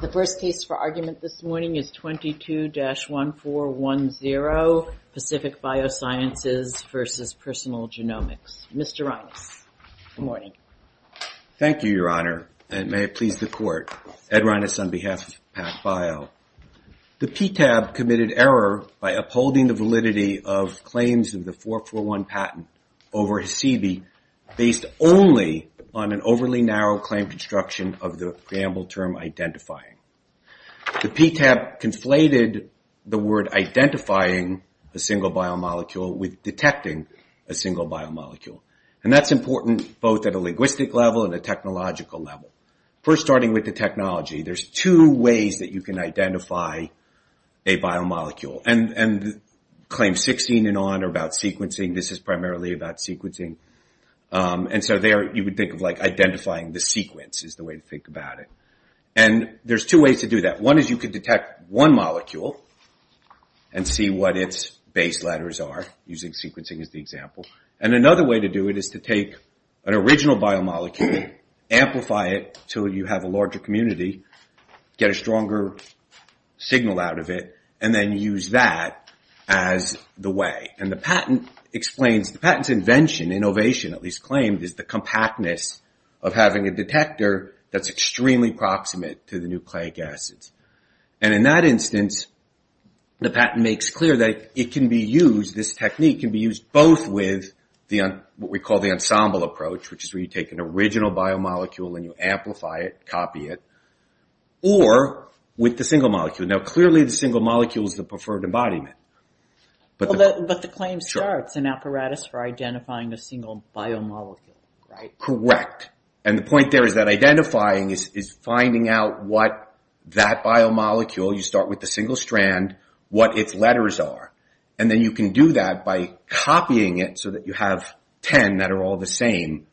The first case for argument this morning is 22-1410, Pacific Biosciences v. Personal Genomics. Mr. Reines, good morning. Thank you, Your Honor, and may it please the Court. Ed Reines on behalf of PacBio. The PTAB committed error by upholding the validity of claims of the 441 patent over HSIBI based only on an overly narrow claim construction of the preamble term identifying. The PTAB conflated the word identifying a single biomolecule with detecting a single biomolecule. That's important both at a linguistic level and a technological level. First, starting with the technology, there are two ways that you can identify a biomolecule. Claim 16 and on are about sequencing. This is primarily about sequencing. There you would think of identifying the sequence is the way to think about it. There are two ways to do that. One is you can detect one molecule and see what its base letters are using sequencing as the example. Another way to do it is to take an original biomolecule, amplify it so you have a larger community, get a stronger signal out of it, and then use that as the way. The point is the patent's invention, innovation at least, is the compactness of having a detector that's extremely proximate to the nucleic acids. In that instance, the patent makes clear that it can be used, this technique can be used, both with what we call the ensemble approach, which is where you take an original biomolecule and you amplify it, copy it, or with the single molecules, the preferred embodiment. But the claim starts an apparatus for identifying a single biomolecule, right? Correct. The point there is that identifying is finding out what that biomolecule, you start with the single strand, what its letters are. Then you can do that by copying it so that you have 10 that are all the same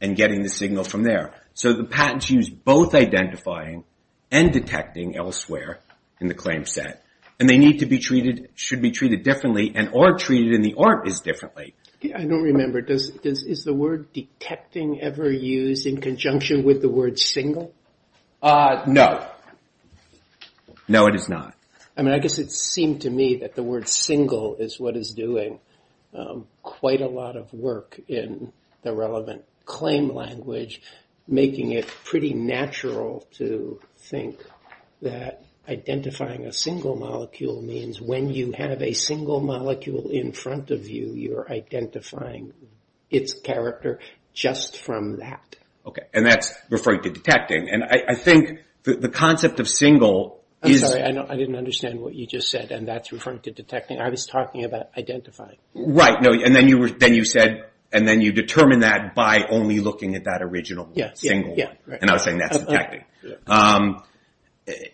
and getting the signal from there. The patents use both identifying and detecting elsewhere in the claim set. They need to be treated, should be treated differently, and are treated in the art as differently. I don't remember. Is the word detecting ever used in conjunction with the word single? No. No, it is not. I mean, I guess it seemed to me that the word single is what is doing quite a lot of work in the relevant claim language, making it pretty natural to think that identifying a single molecule means when you have a single molecule in front of you, you are identifying its character just from that. Okay, and that's referring to detecting. I think the concept of single is... I'm sorry, I didn't understand what you just said, and that's referring to detecting. I was talking about identifying. Right, and then you said, and then you determined that by only looking at that original single, and I was saying that's detecting,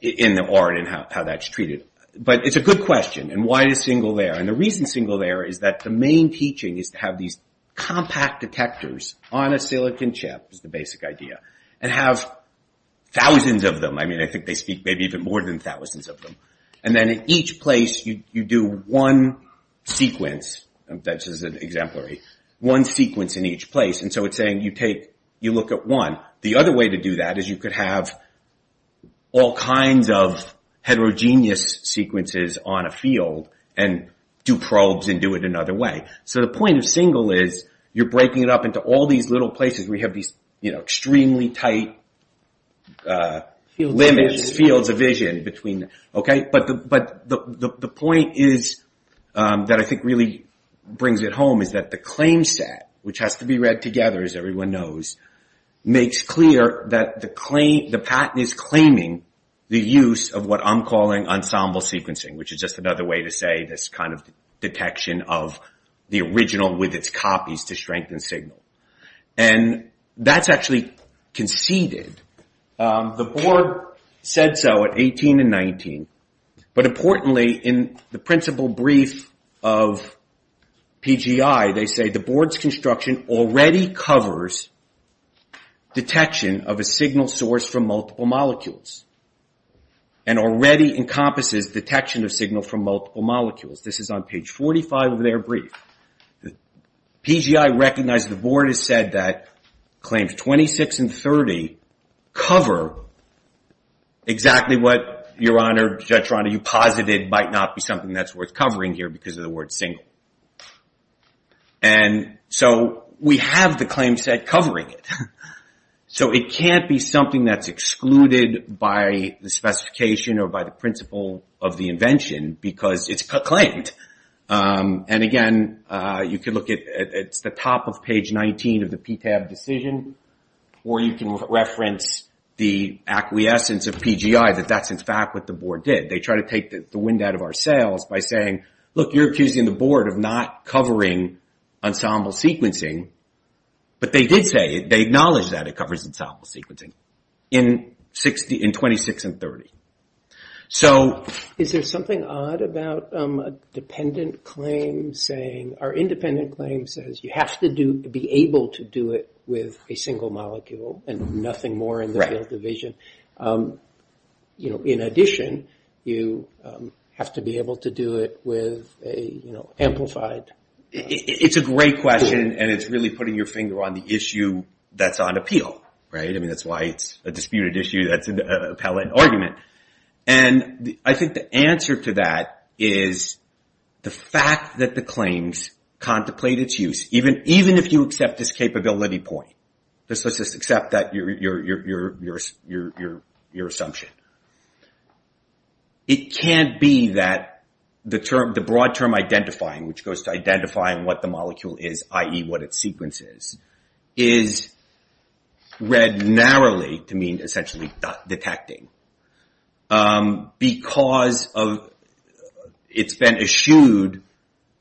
in the art and how that's treated. But it's a good question, and why is single there? And the reason single there is that the main teaching is to have these compact detectors on a silicon chip, is the basic idea, and have thousands of them. I mean, I think they speak maybe even more than thousands of them. And then in each place, you do one sequence. That's just an exemplary. One sequence in each place, and so it's saying you take, you look at one. The other way to do that is you could have all kinds of heterogeneous sequences on a field, and do probes and do it another way. So the point of single is you're breaking it up into all these little tiny limits, fields of vision. But the point that I think really brings it home is that the claim set, which has to be read together, as everyone knows, makes clear that the patent is claiming the use of what I'm calling ensemble sequencing, which is just another way to say this kind of detection of the original with its copies to strengthen signal. And that's actually conceded. The board said so at 18 and 19. But importantly, in the principal brief of PGI, they say the board's construction already covers detection of a signal source from multiple molecules, and already encompasses detection of signal from multiple molecules. This is on page 45 of their brief. PGI recognized the board has said that claims 26 and 30 cover exactly what, Your Honor, Judge Rana, you posited might not be something that's worth covering here because of the word single. And so we have the claim set covering it. So it can't be something that's excluded by the specification or by the principle of the convention, because it's claimed. And again, you can look at the top of page 19 of the PTAB decision, or you can reference the acquiescence of PGI that that's in fact what the board did. They tried to take the wind out of our sails by saying, look, you're accusing the board of not covering ensemble sequencing. But they did say, they acknowledged that it was something odd about a dependent claim saying, or independent claim says, you have to be able to do it with a single molecule, and nothing more in the field division. In addition, you have to be able to do it with an amplified. It's a great question, and it's really putting your finger on the issue that's on appeal. That's why it's a disputed issue that's an appellate argument. And I think the answer to that is the fact that the claims contemplate its use, even if you accept this capability point. Let's just accept your assumption. It can't be that the broad term identifying, which goes to identifying what the molecule is, i.e. what its sequence is, is read narrowly to mean essentially detecting. Because it's been eschewed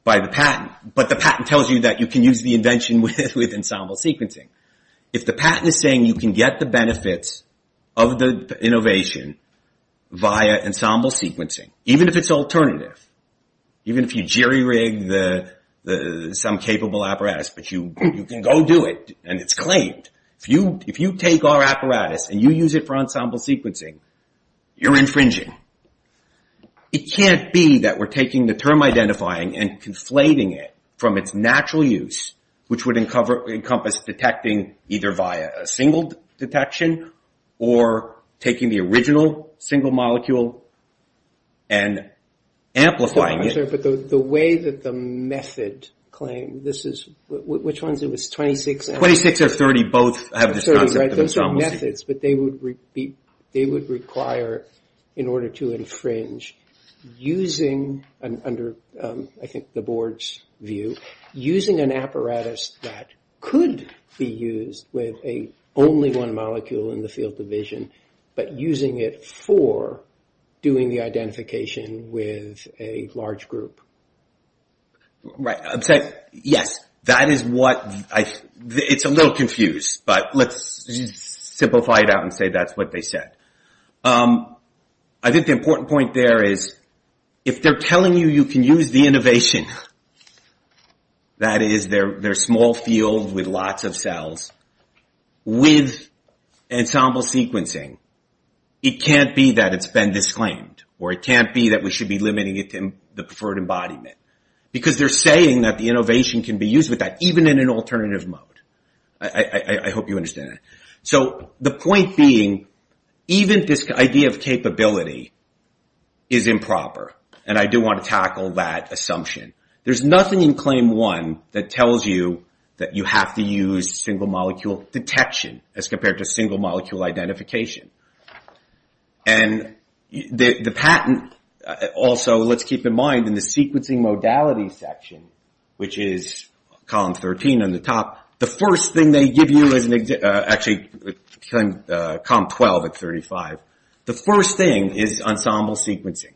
by the patent, but the patent tells you that you can use the invention with ensemble sequencing. If the patent is saying you can get the benefits of the innovation via ensemble sequencing, even if it's alternative, even if you jerry-rig some capable apparatus, but you can go do it and it's claimed. If you take our apparatus and you use it for ensemble sequencing, you're infringing. It can't be that we're taking the term identifying and conflating it from its natural use, which would encompass detecting either via a single detection, or taking the term identifying and amplifying it. The way that the method claim, this is, which one is it? 26 or 30 both have this concept of ensemble sequencing. Those are methods, but they would require, in order to infringe, using an apparatus that could be used with only one molecule in the field division, but using it for doing the identification with a large group. Right. I'm saying, yes, that is what, it's a little confused, but let's simplify it out and say that's what they said. I think the important point there is, if they're telling you you can use the innovation, that is their small field with lots of cells, with ensemble sequencing, it can't be that it's been disclaimed, or it can't be that we should be limiting it to the preferred embodiment. Because they're saying that the innovation can be used with that, even in an alternative mode. I hope you understand that. The point being, even this idea of capability is improper. I do want to tackle that assumption. There's nothing in claim one that tells you that you have to use single molecule detection as compared to single molecule identification. The patent, also, let's keep in mind, in the sequencing modality section, which is column 13 on the top, the first thing they give you is, actually column 12 at 35, the first thing is ensemble sequencing,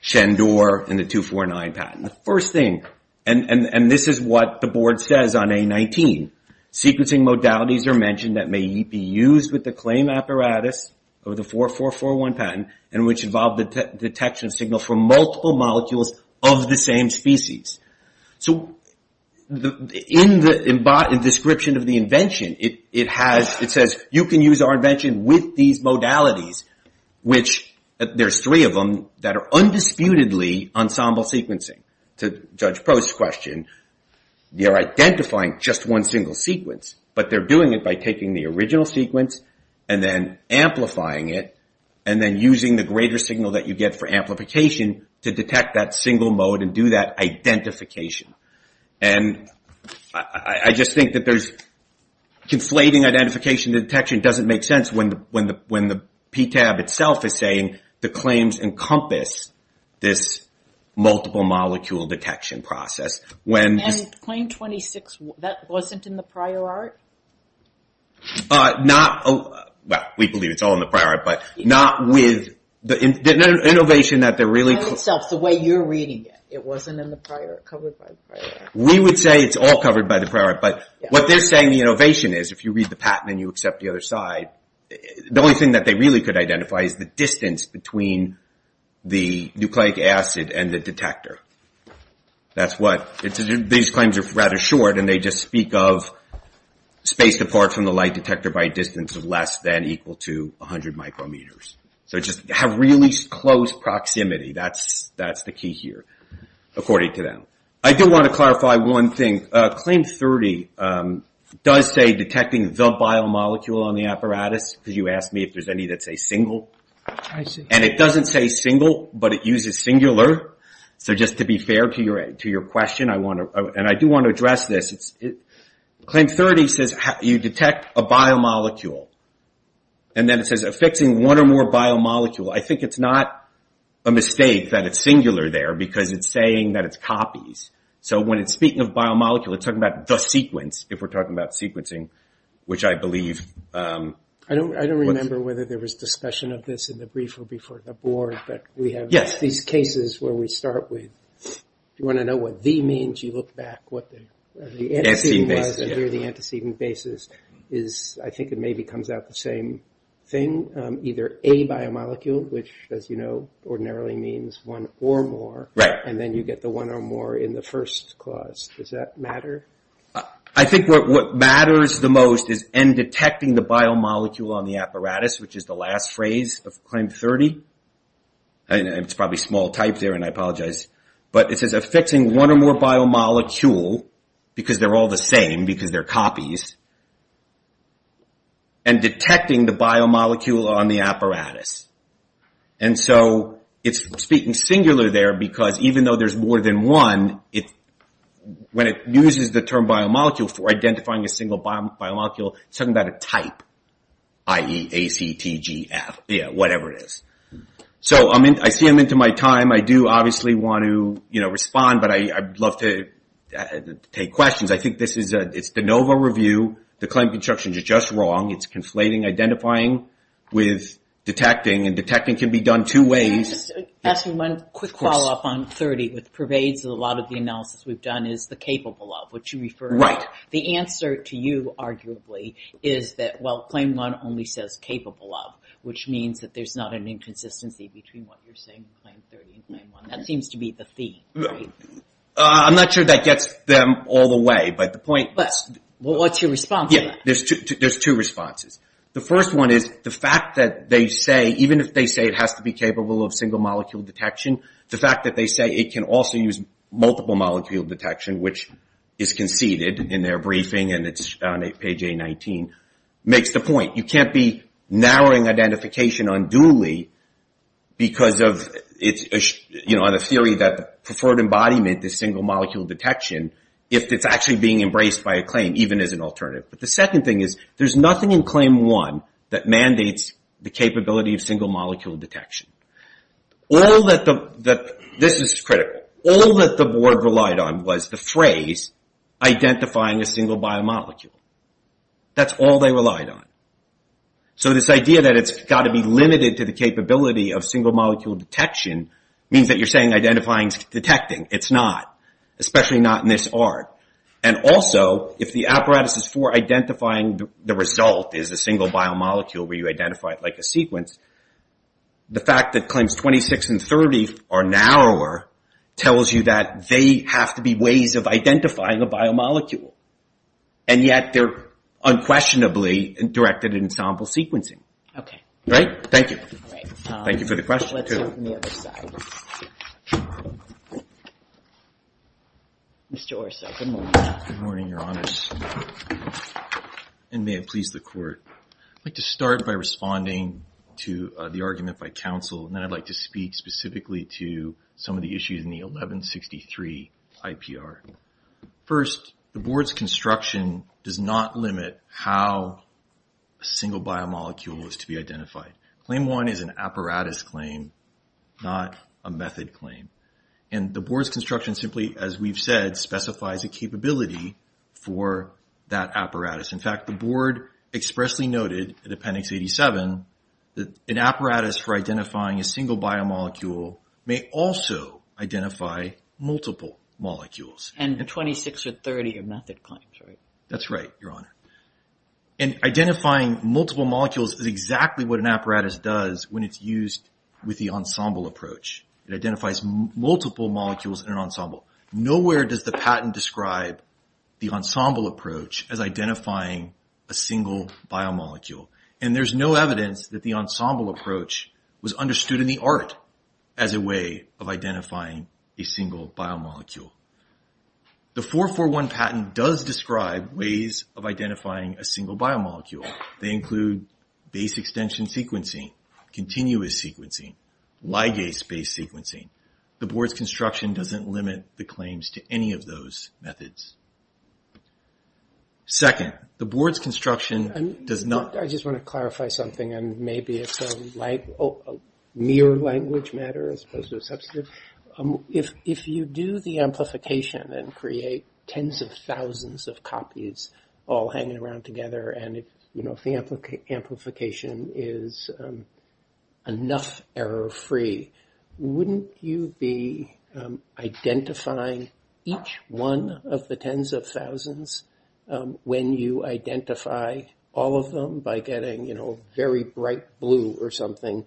Shandor and the 249 patent. The first thing, and this is what the board says on A19, sequencing modalities are mentioned that may be used with the claim apparatus of the 4441 patent, and which involve the detection signal for multiple molecules of the same species. So in the description of the invention, it says you can use our invention with these to judge post question. You're identifying just one single sequence, but they're doing it by taking the original sequence and then amplifying it, and then using the greater signal that you get for amplification to detect that single mode and do that identification. I just think that there's conflating identification to detection doesn't make sense when the PTAB itself is saying the claims encompass this multiple molecule detection process. And claim 26, that wasn't in the prior art? Not, well, we believe it's all in the prior art, but not with the innovation that they're really... In itself, the way you're reading it, it wasn't in the prior art, covered by the prior art. We would say it's all covered by the prior art, but what they're saying the innovation is, if you read the patent and you accept the other side, the only thing that they really could identify is the distance between the nucleic acid and the detector. These claims are rather short, and they just speak of space apart from the light detector by a distance of less than or equal to 100 micrometers. So just have really close proximity, that's the key here, according to them. I do want to clarify one thing. Claim 30 does say detecting the biomolecule on the apparatus, because you asked me if there's any that say single, and it doesn't say single, but it uses singular. So just to be fair to your question, and I do want to address this, claim 30 says you detect a biomolecule, and then it says affixing one or more biomolecule. I think it's not a mistake that it's singular there, because it's saying that it's copies. So when it's speaking of biomolecule, it's talking about the sequence, if we're talking about sequencing, which I believe... I don't know whether there was discussion of this in the brief or before the board, but we have these cases where we start with, if you want to know what the means, you look back, what the antecedent was, and here the antecedent basis is, I think it maybe comes out the same thing, either a biomolecule, which, as you know, ordinarily means one or more, and then you get the one or more in the first clause. Does that matter? I think what matters the most is, and detecting the biomolecule on the apparatus, which is the last phrase of claim 30, and it's probably small type there, and I apologize, but it says affixing one or more biomolecule, because they're all the same, because they're copies, and detecting the biomolecule on the apparatus. And so it's speaking singular there, because even though there's more than one, when it uses the term biomolecule for identifying a single biomolecule, it's talking about a type, i.e. A, C, T, G, F, whatever it is. So I see I'm into my time, I do obviously want to respond, but I'd love to take questions. I think it's the NOVA review, the claim constructions are just wrong, it's conflating identifying with detecting, and detecting can be done two ways. Can I just ask you one quick follow-up on 30, which pervades a lot of the analysis we've referred to. The answer to you, arguably, is that claim 1 only says capable of, which means that there's not an inconsistency between what you're saying in claim 30 and claim 1. That seems to be the theme, right? I'm not sure that gets them all the way, but the point is, there's two responses. The first one is the fact that they say, even if they say it has to be capable of single molecule detection, the fact that they say it can also use multiple molecule detection, which is conceded in their briefing, and it's on page A19, makes the point. You can't be narrowing identification unduly because of the theory that preferred embodiment is single molecule detection, if it's actually being embraced by a claim, even as an alternative. The second thing is, there's nothing in claim 1 that mandates the capability of single molecule detection. This is critical. All that the board relied on was the phrase, identifying a single biomolecule. That's all they relied on. This idea that it's got to be limited to the capability of single molecule detection means that you're saying identifying is detecting. It's not, especially not in this art. Also, if the apparatus is for identifying the result, is a single biomolecule where you identify it like a sequence, the fact that claims 26 and 30 are narrower, tells you that they have to be ways of identifying a biomolecule, and yet they're unquestionably directed in sample sequencing. Thank you. Thank you for the question. Let's open the other side. Mr. Orso, good morning. Good morning, Your Honors. May it please the court. I'd like to start by responding to the argument by counsel, and then I'd like to speak specifically to some of the issues in the 1163 IPR. First, the board's construction does not limit how a single biomolecule is to be identified. Claim 1 is an apparatus claim, not a method claim. The board's construction simply, as we've said, specifies a capability for that apparatus. In fact, the board expressly noted in Appendix 87 that an apparatus for identifying a single biomolecule may also identify multiple molecules. And 26 or 30 are method claims, right? That's right, Your Honor. Identifying multiple molecules is exactly what an apparatus does when it's used with It identifies multiple molecules in an ensemble. Nowhere does the patent describe the ensemble approach as identifying a single biomolecule. And there's no evidence that the ensemble approach was understood in the art as a way of identifying a single biomolecule. The 441 patent does describe ways of identifying a single biomolecule. They include base extension sequencing, continuous sequencing, ligase-based sequencing. The board's construction doesn't limit the claims to any of those methods. Second, the board's construction does not... I just want to clarify something, and maybe it's a mere language matter as opposed to a substantive. If you do the amplification and create tens of thousands of copies all hanging around together, and if the amplification is enough error-free, wouldn't you be identifying each one of the tens of thousands when you identify all of them by getting very bright blue or something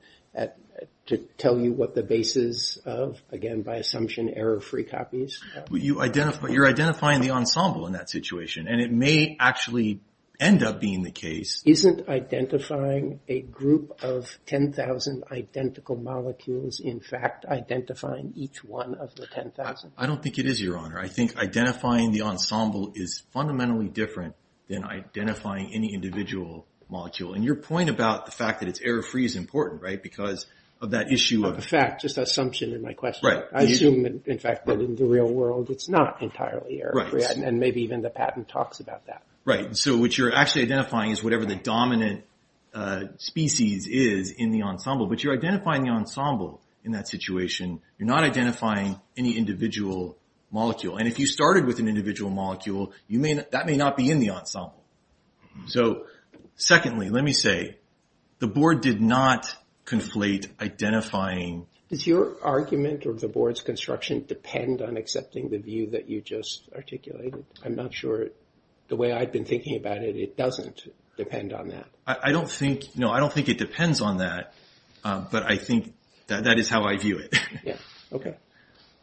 to tell you what the base is of, again, by assumption, error-free copies? You're identifying the ensemble in that situation, and it may actually end up being the case... Isn't identifying a group of 10,000 identical molecules, in fact, identifying each one of the 10,000? I don't think it is, Your Honor. I think identifying the ensemble is fundamentally different than identifying any individual molecule. And your point about the fact that it's error-free is important, right, because of that issue of... Of the fact. Just assumption in my question. Right. I assume, in fact, that in the real world it's not entirely error-free. Right. And maybe even the patent talks about that. Right. So what you're actually identifying is whatever the dominant species is in the ensemble. But you're identifying the ensemble in that situation. You're not identifying any individual molecule. And if you started with an individual molecule, that may not be in the ensemble. So, secondly, let me say, the Board did not conflate identifying... Does your argument or the Board's construction depend on accepting the view that you just articulated? I'm not sure. The way I've been thinking about it, it doesn't depend on that. I don't think... No, I don't think it depends on that. But I think that is how I view it. Yeah. Okay.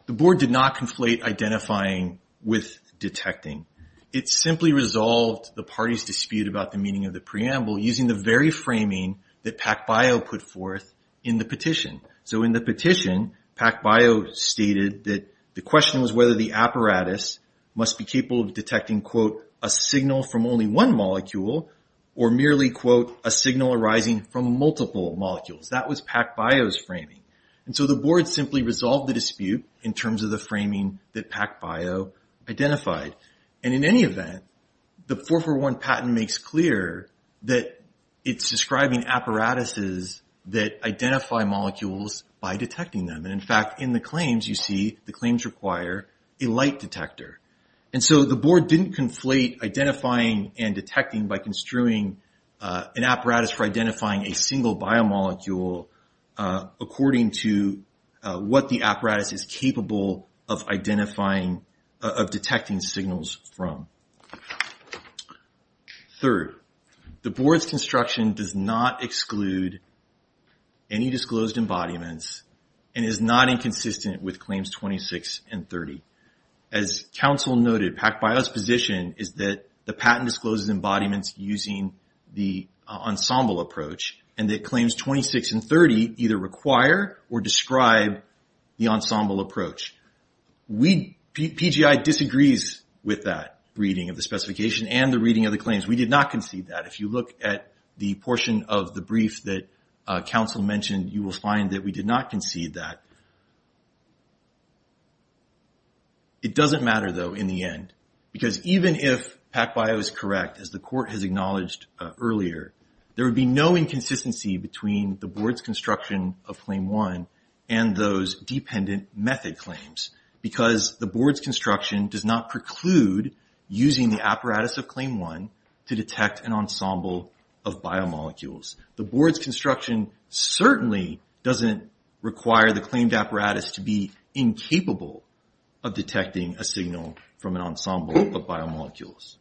The Board did not conflate identifying with detecting. It simply resolved the party's dispute about the meaning of the preamble using the very framing that PacBio put forth in the petition. So in the petition, PacBio stated that the question was whether the apparatus must be capable of detecting, quote, a signal from only one molecule or merely, quote, a signal arising from multiple molecules. That was PacBio's framing. And so the Board simply resolved the dispute in terms of the framing that PacBio identified. And in any event, the 441 patent makes clear that it's describing apparatuses that identify molecules by detecting them. And in fact, in the claims you see, the claims require a light detector. And so the Board didn't conflate identifying and detecting by construing an apparatus for identifying a single biomolecule according to what the apparatus is capable of identifying, of detecting signals from. Third, the Board's construction does not exclude any disclosed embodiments and is not inconsistent with Claims 26 and 30. As counsel noted, PacBio's position is that the patent discloses embodiments using the ensemble approach and that Claims 26 and 30 either require or describe the ensemble approach. PGI disagrees with that reading of the specification and the reading of the claims. We did not concede that. If you look at the portion of the brief that counsel mentioned, you will find that we did not concede that. It doesn't matter, though, in the end, because even if PacBio is correct, as the court has acknowledged earlier, there would be no inconsistency between the Board's construction of Claim 1 and those dependent method claims because the Board's construction does not preclude using the apparatus of Claim 1 to detect an ensemble of biomolecules. The Board's construction certainly doesn't require the claimed apparatus to be incapable of detecting a signal from an ensemble of biomolecules.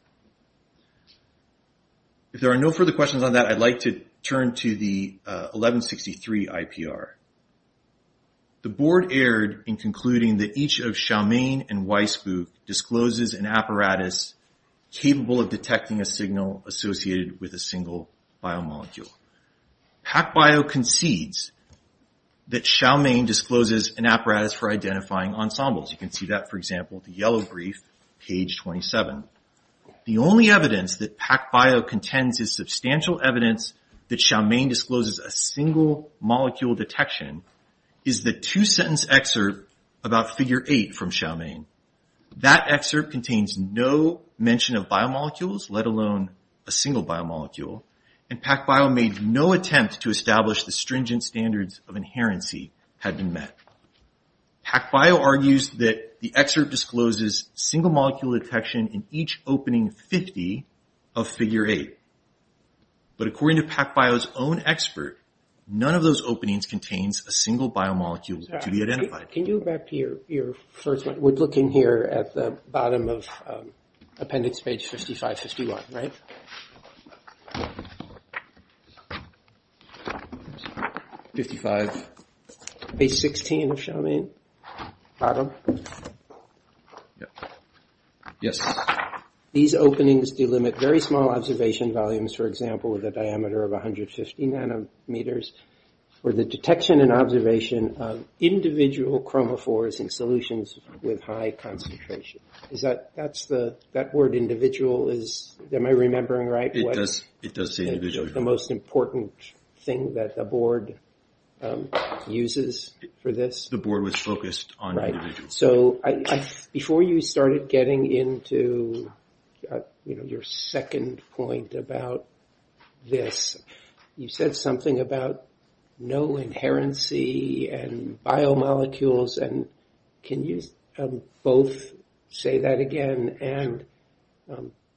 If there are no further questions on that, I'd like to turn to the 1163 IPR. The Board erred in concluding that each of Chow Mein and Weisbuch discloses an apparatus capable of detecting a signal associated with a single biomolecule. PacBio concedes that Chow Mein discloses an apparatus for identifying ensembles. You can see that, for example, in the yellow brief, page 27. The only evidence that PacBio contends is substantial evidence that Chow Mein discloses a single-molecule detection is the two-sentence excerpt about Figure 8 from Chow Mein. That excerpt contains no mention of biomolecules, let alone a single biomolecule, and PacBio made no attempt to establish the stringent standards of inherency had been met. PacBio argues that the excerpt discloses single-molecule detection in each opening 50 of Figure 8, but according to PacBio's own expert, none of those openings contains a single biomolecule to be identified. Can you go back to your first one? We're looking here at the bottom of appendix page 5551, right? Page 16 of Chow Mein, bottom. Yes. These openings delimit very small observation volumes, for example, with a diameter of 150 nanometers, where the detection and observation of individual chromophores in solutions with high concentration. Is that, that's the, that word individual is, am I remembering it right? It does say individual. The most important thing that the board uses for this? The board was focused on individual. Right. So before you started getting into, you know, your second point about this, you said something about no inherency and biomolecules, and can you both say that again and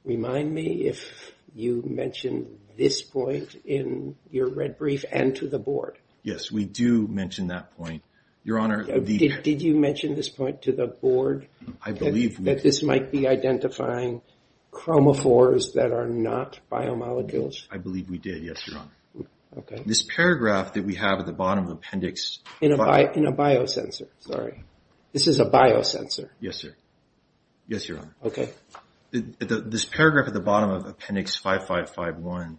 remind me if you mentioned this point in your red brief and to the board. Yes, we do mention that point. Your Honor, the- Did you mention this point to the board? I believe we- That this might be identifying chromophores that are not biomolecules? I believe we did, yes, Your Honor. Okay. This paragraph that we have at the bottom of appendix- In a biosensor. Sorry. This is a biosensor. Yes, sir. Yes, Your Honor. Okay. This paragraph at the bottom of appendix 5551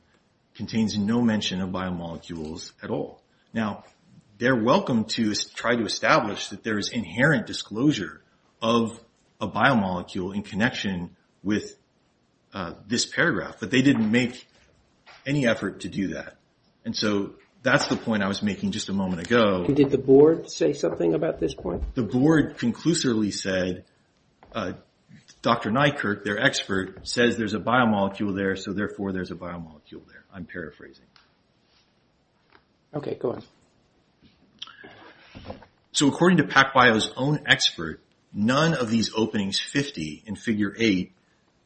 contains no mention of biomolecules at all. Now, they're welcome to try to establish that there is inherent disclosure of a biomolecule in connection with this paragraph, but they didn't make any effort to do that. And so that's the point I was making just a moment ago. Did the board say something about this point? The board conclusively said, Dr. Nykerk, their expert, says there's a biomolecule there, so therefore there's a biomolecule there. I'm paraphrasing. Okay. Go ahead. So according to PacBio's own expert, none of these openings 50 in figure 8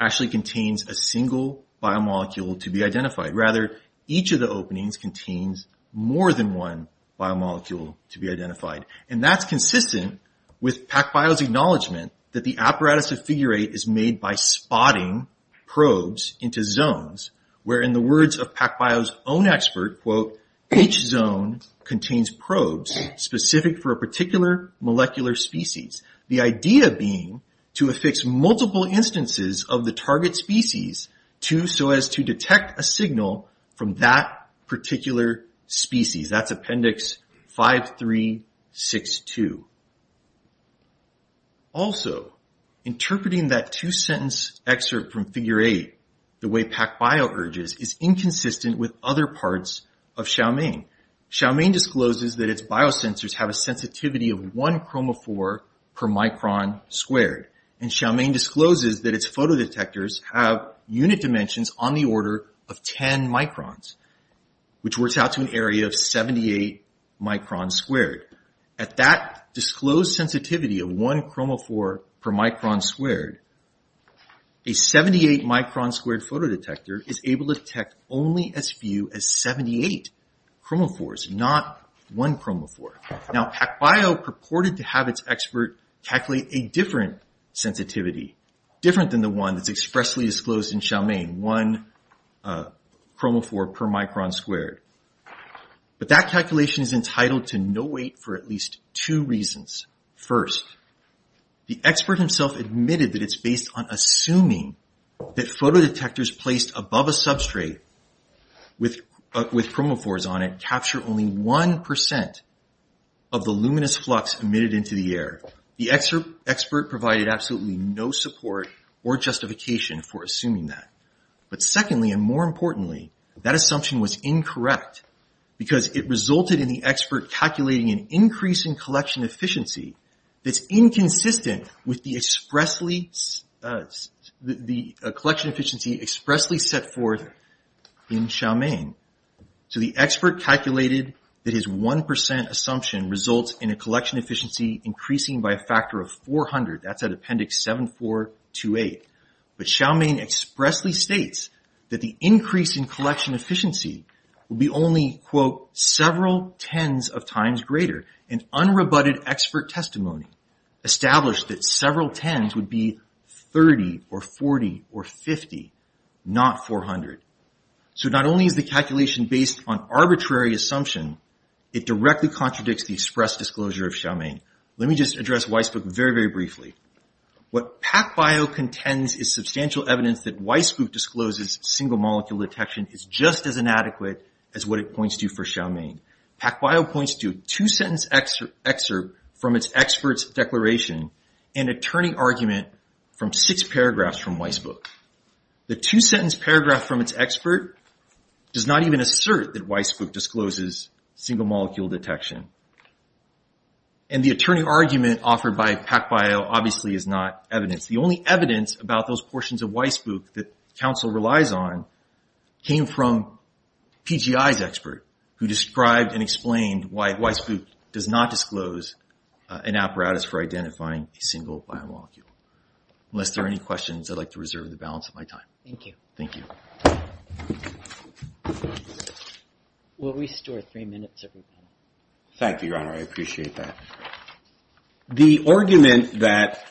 actually contains a single biomolecule to be identified. Rather, each of the openings contains more than one biomolecule to be identified. And that's consistent with PacBio's acknowledgement that the apparatus of figure 8 is made by spotting probes into zones, where in the words of PacBio's own expert, quote, each zone contains probes specific for a particular molecular species. The idea being to affix multiple instances of the target species so as to detect a signal from that particular species. That's appendix 5362. Also, interpreting that two-sentence excerpt from figure 8 the way PacBio urges is inconsistent with other parts of Xiaomain. Xiaomain discloses that its biosensors have a sensitivity of 1 chromophore per micron squared. And Xiaomain discloses that its photodetectors have unit dimensions on the order of 10 microns, which works out to an area of 78 microns squared. At that disclosed sensitivity of 1 chromophore per micron squared, a 78 micron squared photodetector is able to detect only as few as 78 chromophores, not 1 chromophore. Now, PacBio purported to have its expert calculate a different sensitivity, different than the one that's expressly disclosed in Xiaomain, 1 chromophore per micron squared. But that calculation is entitled to no weight for at least two reasons. First, the expert himself admitted that it's based on assuming that photodetectors placed above a substrate with chromophores on it capture only 1% of the luminous flux emitted into the air. The expert provided absolutely no support or justification for assuming that. But secondly, and more importantly, that assumption was incorrect because it resulted in the expert calculating an increase in collection efficiency that's inconsistent with the collection efficiency expressly set forth in Xiaomain. So the expert calculated that his 1% assumption results in a collection efficiency increasing by a factor of 400. That's at appendix 7428. But Xiaomain expressly states that the increase in collection efficiency will be only, quote, several tens of times greater. An unrebutted expert testimony established that several tens would be 30 or 40 or 50, not 400. So not only is the calculation based on arbitrary assumption, it directly contradicts the express disclosure of Xiaomain. Let me just address Weisbuch very, very briefly. What PacBio contends is substantial evidence that Weisbuch discloses single molecule detection is just as inadequate as what it points to for Xiaomain. PacBio points to a two-sentence excerpt from its expert's declaration and a turning argument from six paragraphs from Weisbuch. The two-sentence paragraph from its expert does not even assert that Weisbuch discloses single molecule detection. And the turning argument offered by PacBio obviously is not evidence. The only evidence about those portions of Weisbuch that counsel relies on came from PGI's expert, who described and explained why Weisbuch does not disclose an apparatus for identifying a single biomolecule. Thank you. Unless there are any questions, I'd like to reserve the balance of my time. Thank you. Thank you. We'll restore three minutes every panel. Thank you, Your Honor. I appreciate that. The argument that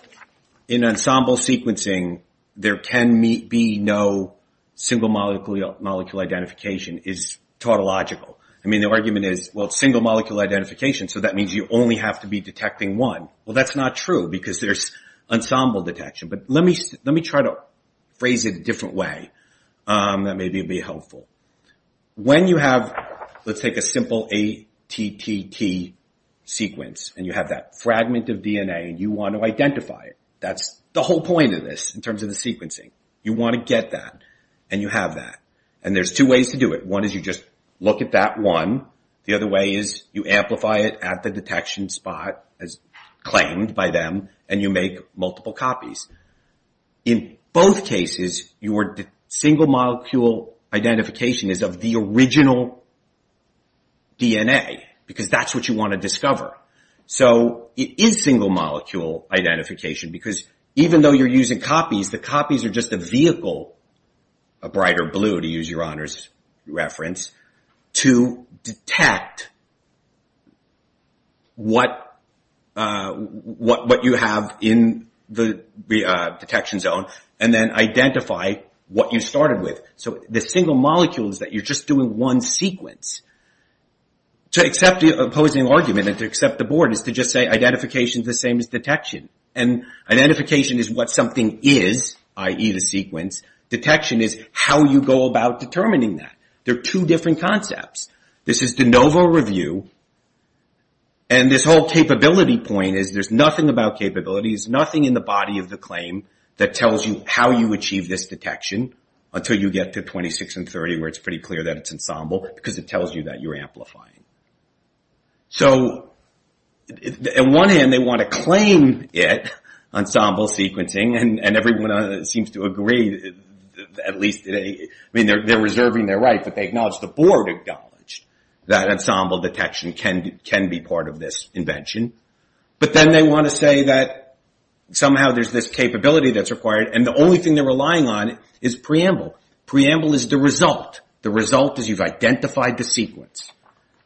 in ensemble sequencing there can be no single molecule identification is tautological. I mean, the argument is, well, it's single molecule identification, so that means you only have to be detecting one. Well, that's not true, because there's ensemble detection. But let me try to phrase it a different way that may be helpful. When you have, let's take a simple ATTT sequence, and you have that fragment of DNA, and you want to identify it, that's the whole point of this in terms of the sequencing. You want to get that, and you have that. And there's two ways to do it. One is you just look at that one. The other way is you amplify it at the detection spot, as claimed by them, and you make multiple copies. In both cases, your single molecule identification is of the original DNA, because that's what you want to discover. So it is single molecule identification, because even though you're using copies, the copies are just a vehicle, a brighter blue to use your honors reference, to detect what you have in the detection zone, and then identify what you started with. So the single molecule is that you're just doing one sequence. To accept the opposing argument and to accept the board is to just say identification is the same as detection. And identification is what something is, i.e. the sequence. Detection is how you go about determining that. They're two different concepts. This is de novo review, and this whole capability point is there's nothing about capabilities, nothing in the body of the claim that tells you how you achieve this detection until you get to 26 and 30, where it's pretty clear that it's ensemble, because it tells you that you're amplifying. So on one hand, they want to claim it, ensemble sequencing, and everyone seems to agree, at least they're reserving their right, but they acknowledge, the board acknowledged, that ensemble detection can be part of this invention. But then they want to say that somehow there's this capability that's required, and the only thing they're relying on is preamble. Preamble is the result. The result is you've identified the sequence.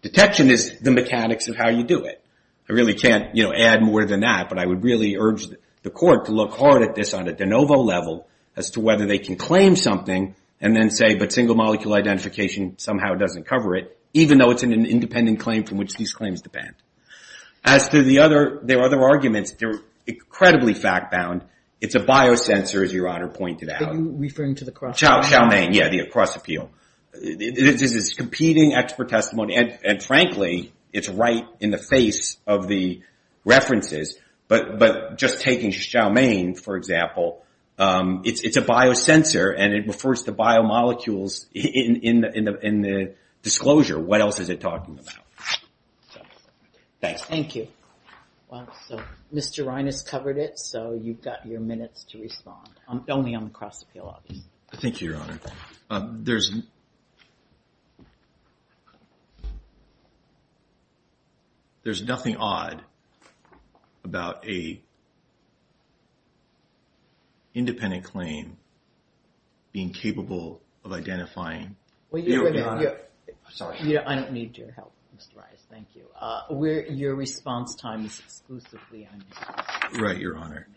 Detection is the mechanics of how you do it. I really can't add more than that, but I would really urge the court to look hard at this on a de novo level, as to whether they can claim something and then say, but single molecule identification somehow doesn't cover it, even though it's an independent claim from which these claims depend. As to the other arguments, they're incredibly fact-bound. It's a biosensor, as Your Honor pointed out. Are you referring to the cross-appeal? Yeah, the cross-appeal. This is competing expert testimony, and frankly, it's right in the face of the references. But just taking Chow Mein, for example, it's a biosensor, and it refers to biomolecules in the disclosure. What else is it talking about? Thanks. Thank you. Well, so Mr. Reines covered it, so you've got your minutes to respond. Only on the cross-appeal, obviously. Thank you, Your Honor. There's nothing odd about an independent claim being capable of identifying. Well, Your Honor, I don't need your help, Mr. Reines. Thank you. Your response time is exclusively on the cross-appeal. Right, Your Honor.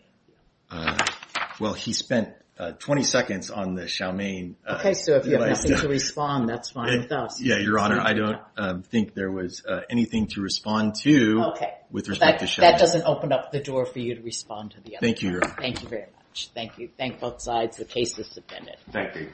Well, he spent 20 seconds on the Chow Mein. Okay, so if you have nothing to respond, that's fine with us. Yeah, Your Honor, I don't think there was anything to respond to with respect to Chow Mein. Okay, that doesn't open up the door for you to respond to the other side. Thank you, Your Honor. Thank you very much. Thank you. Thank both sides. The case is submitted.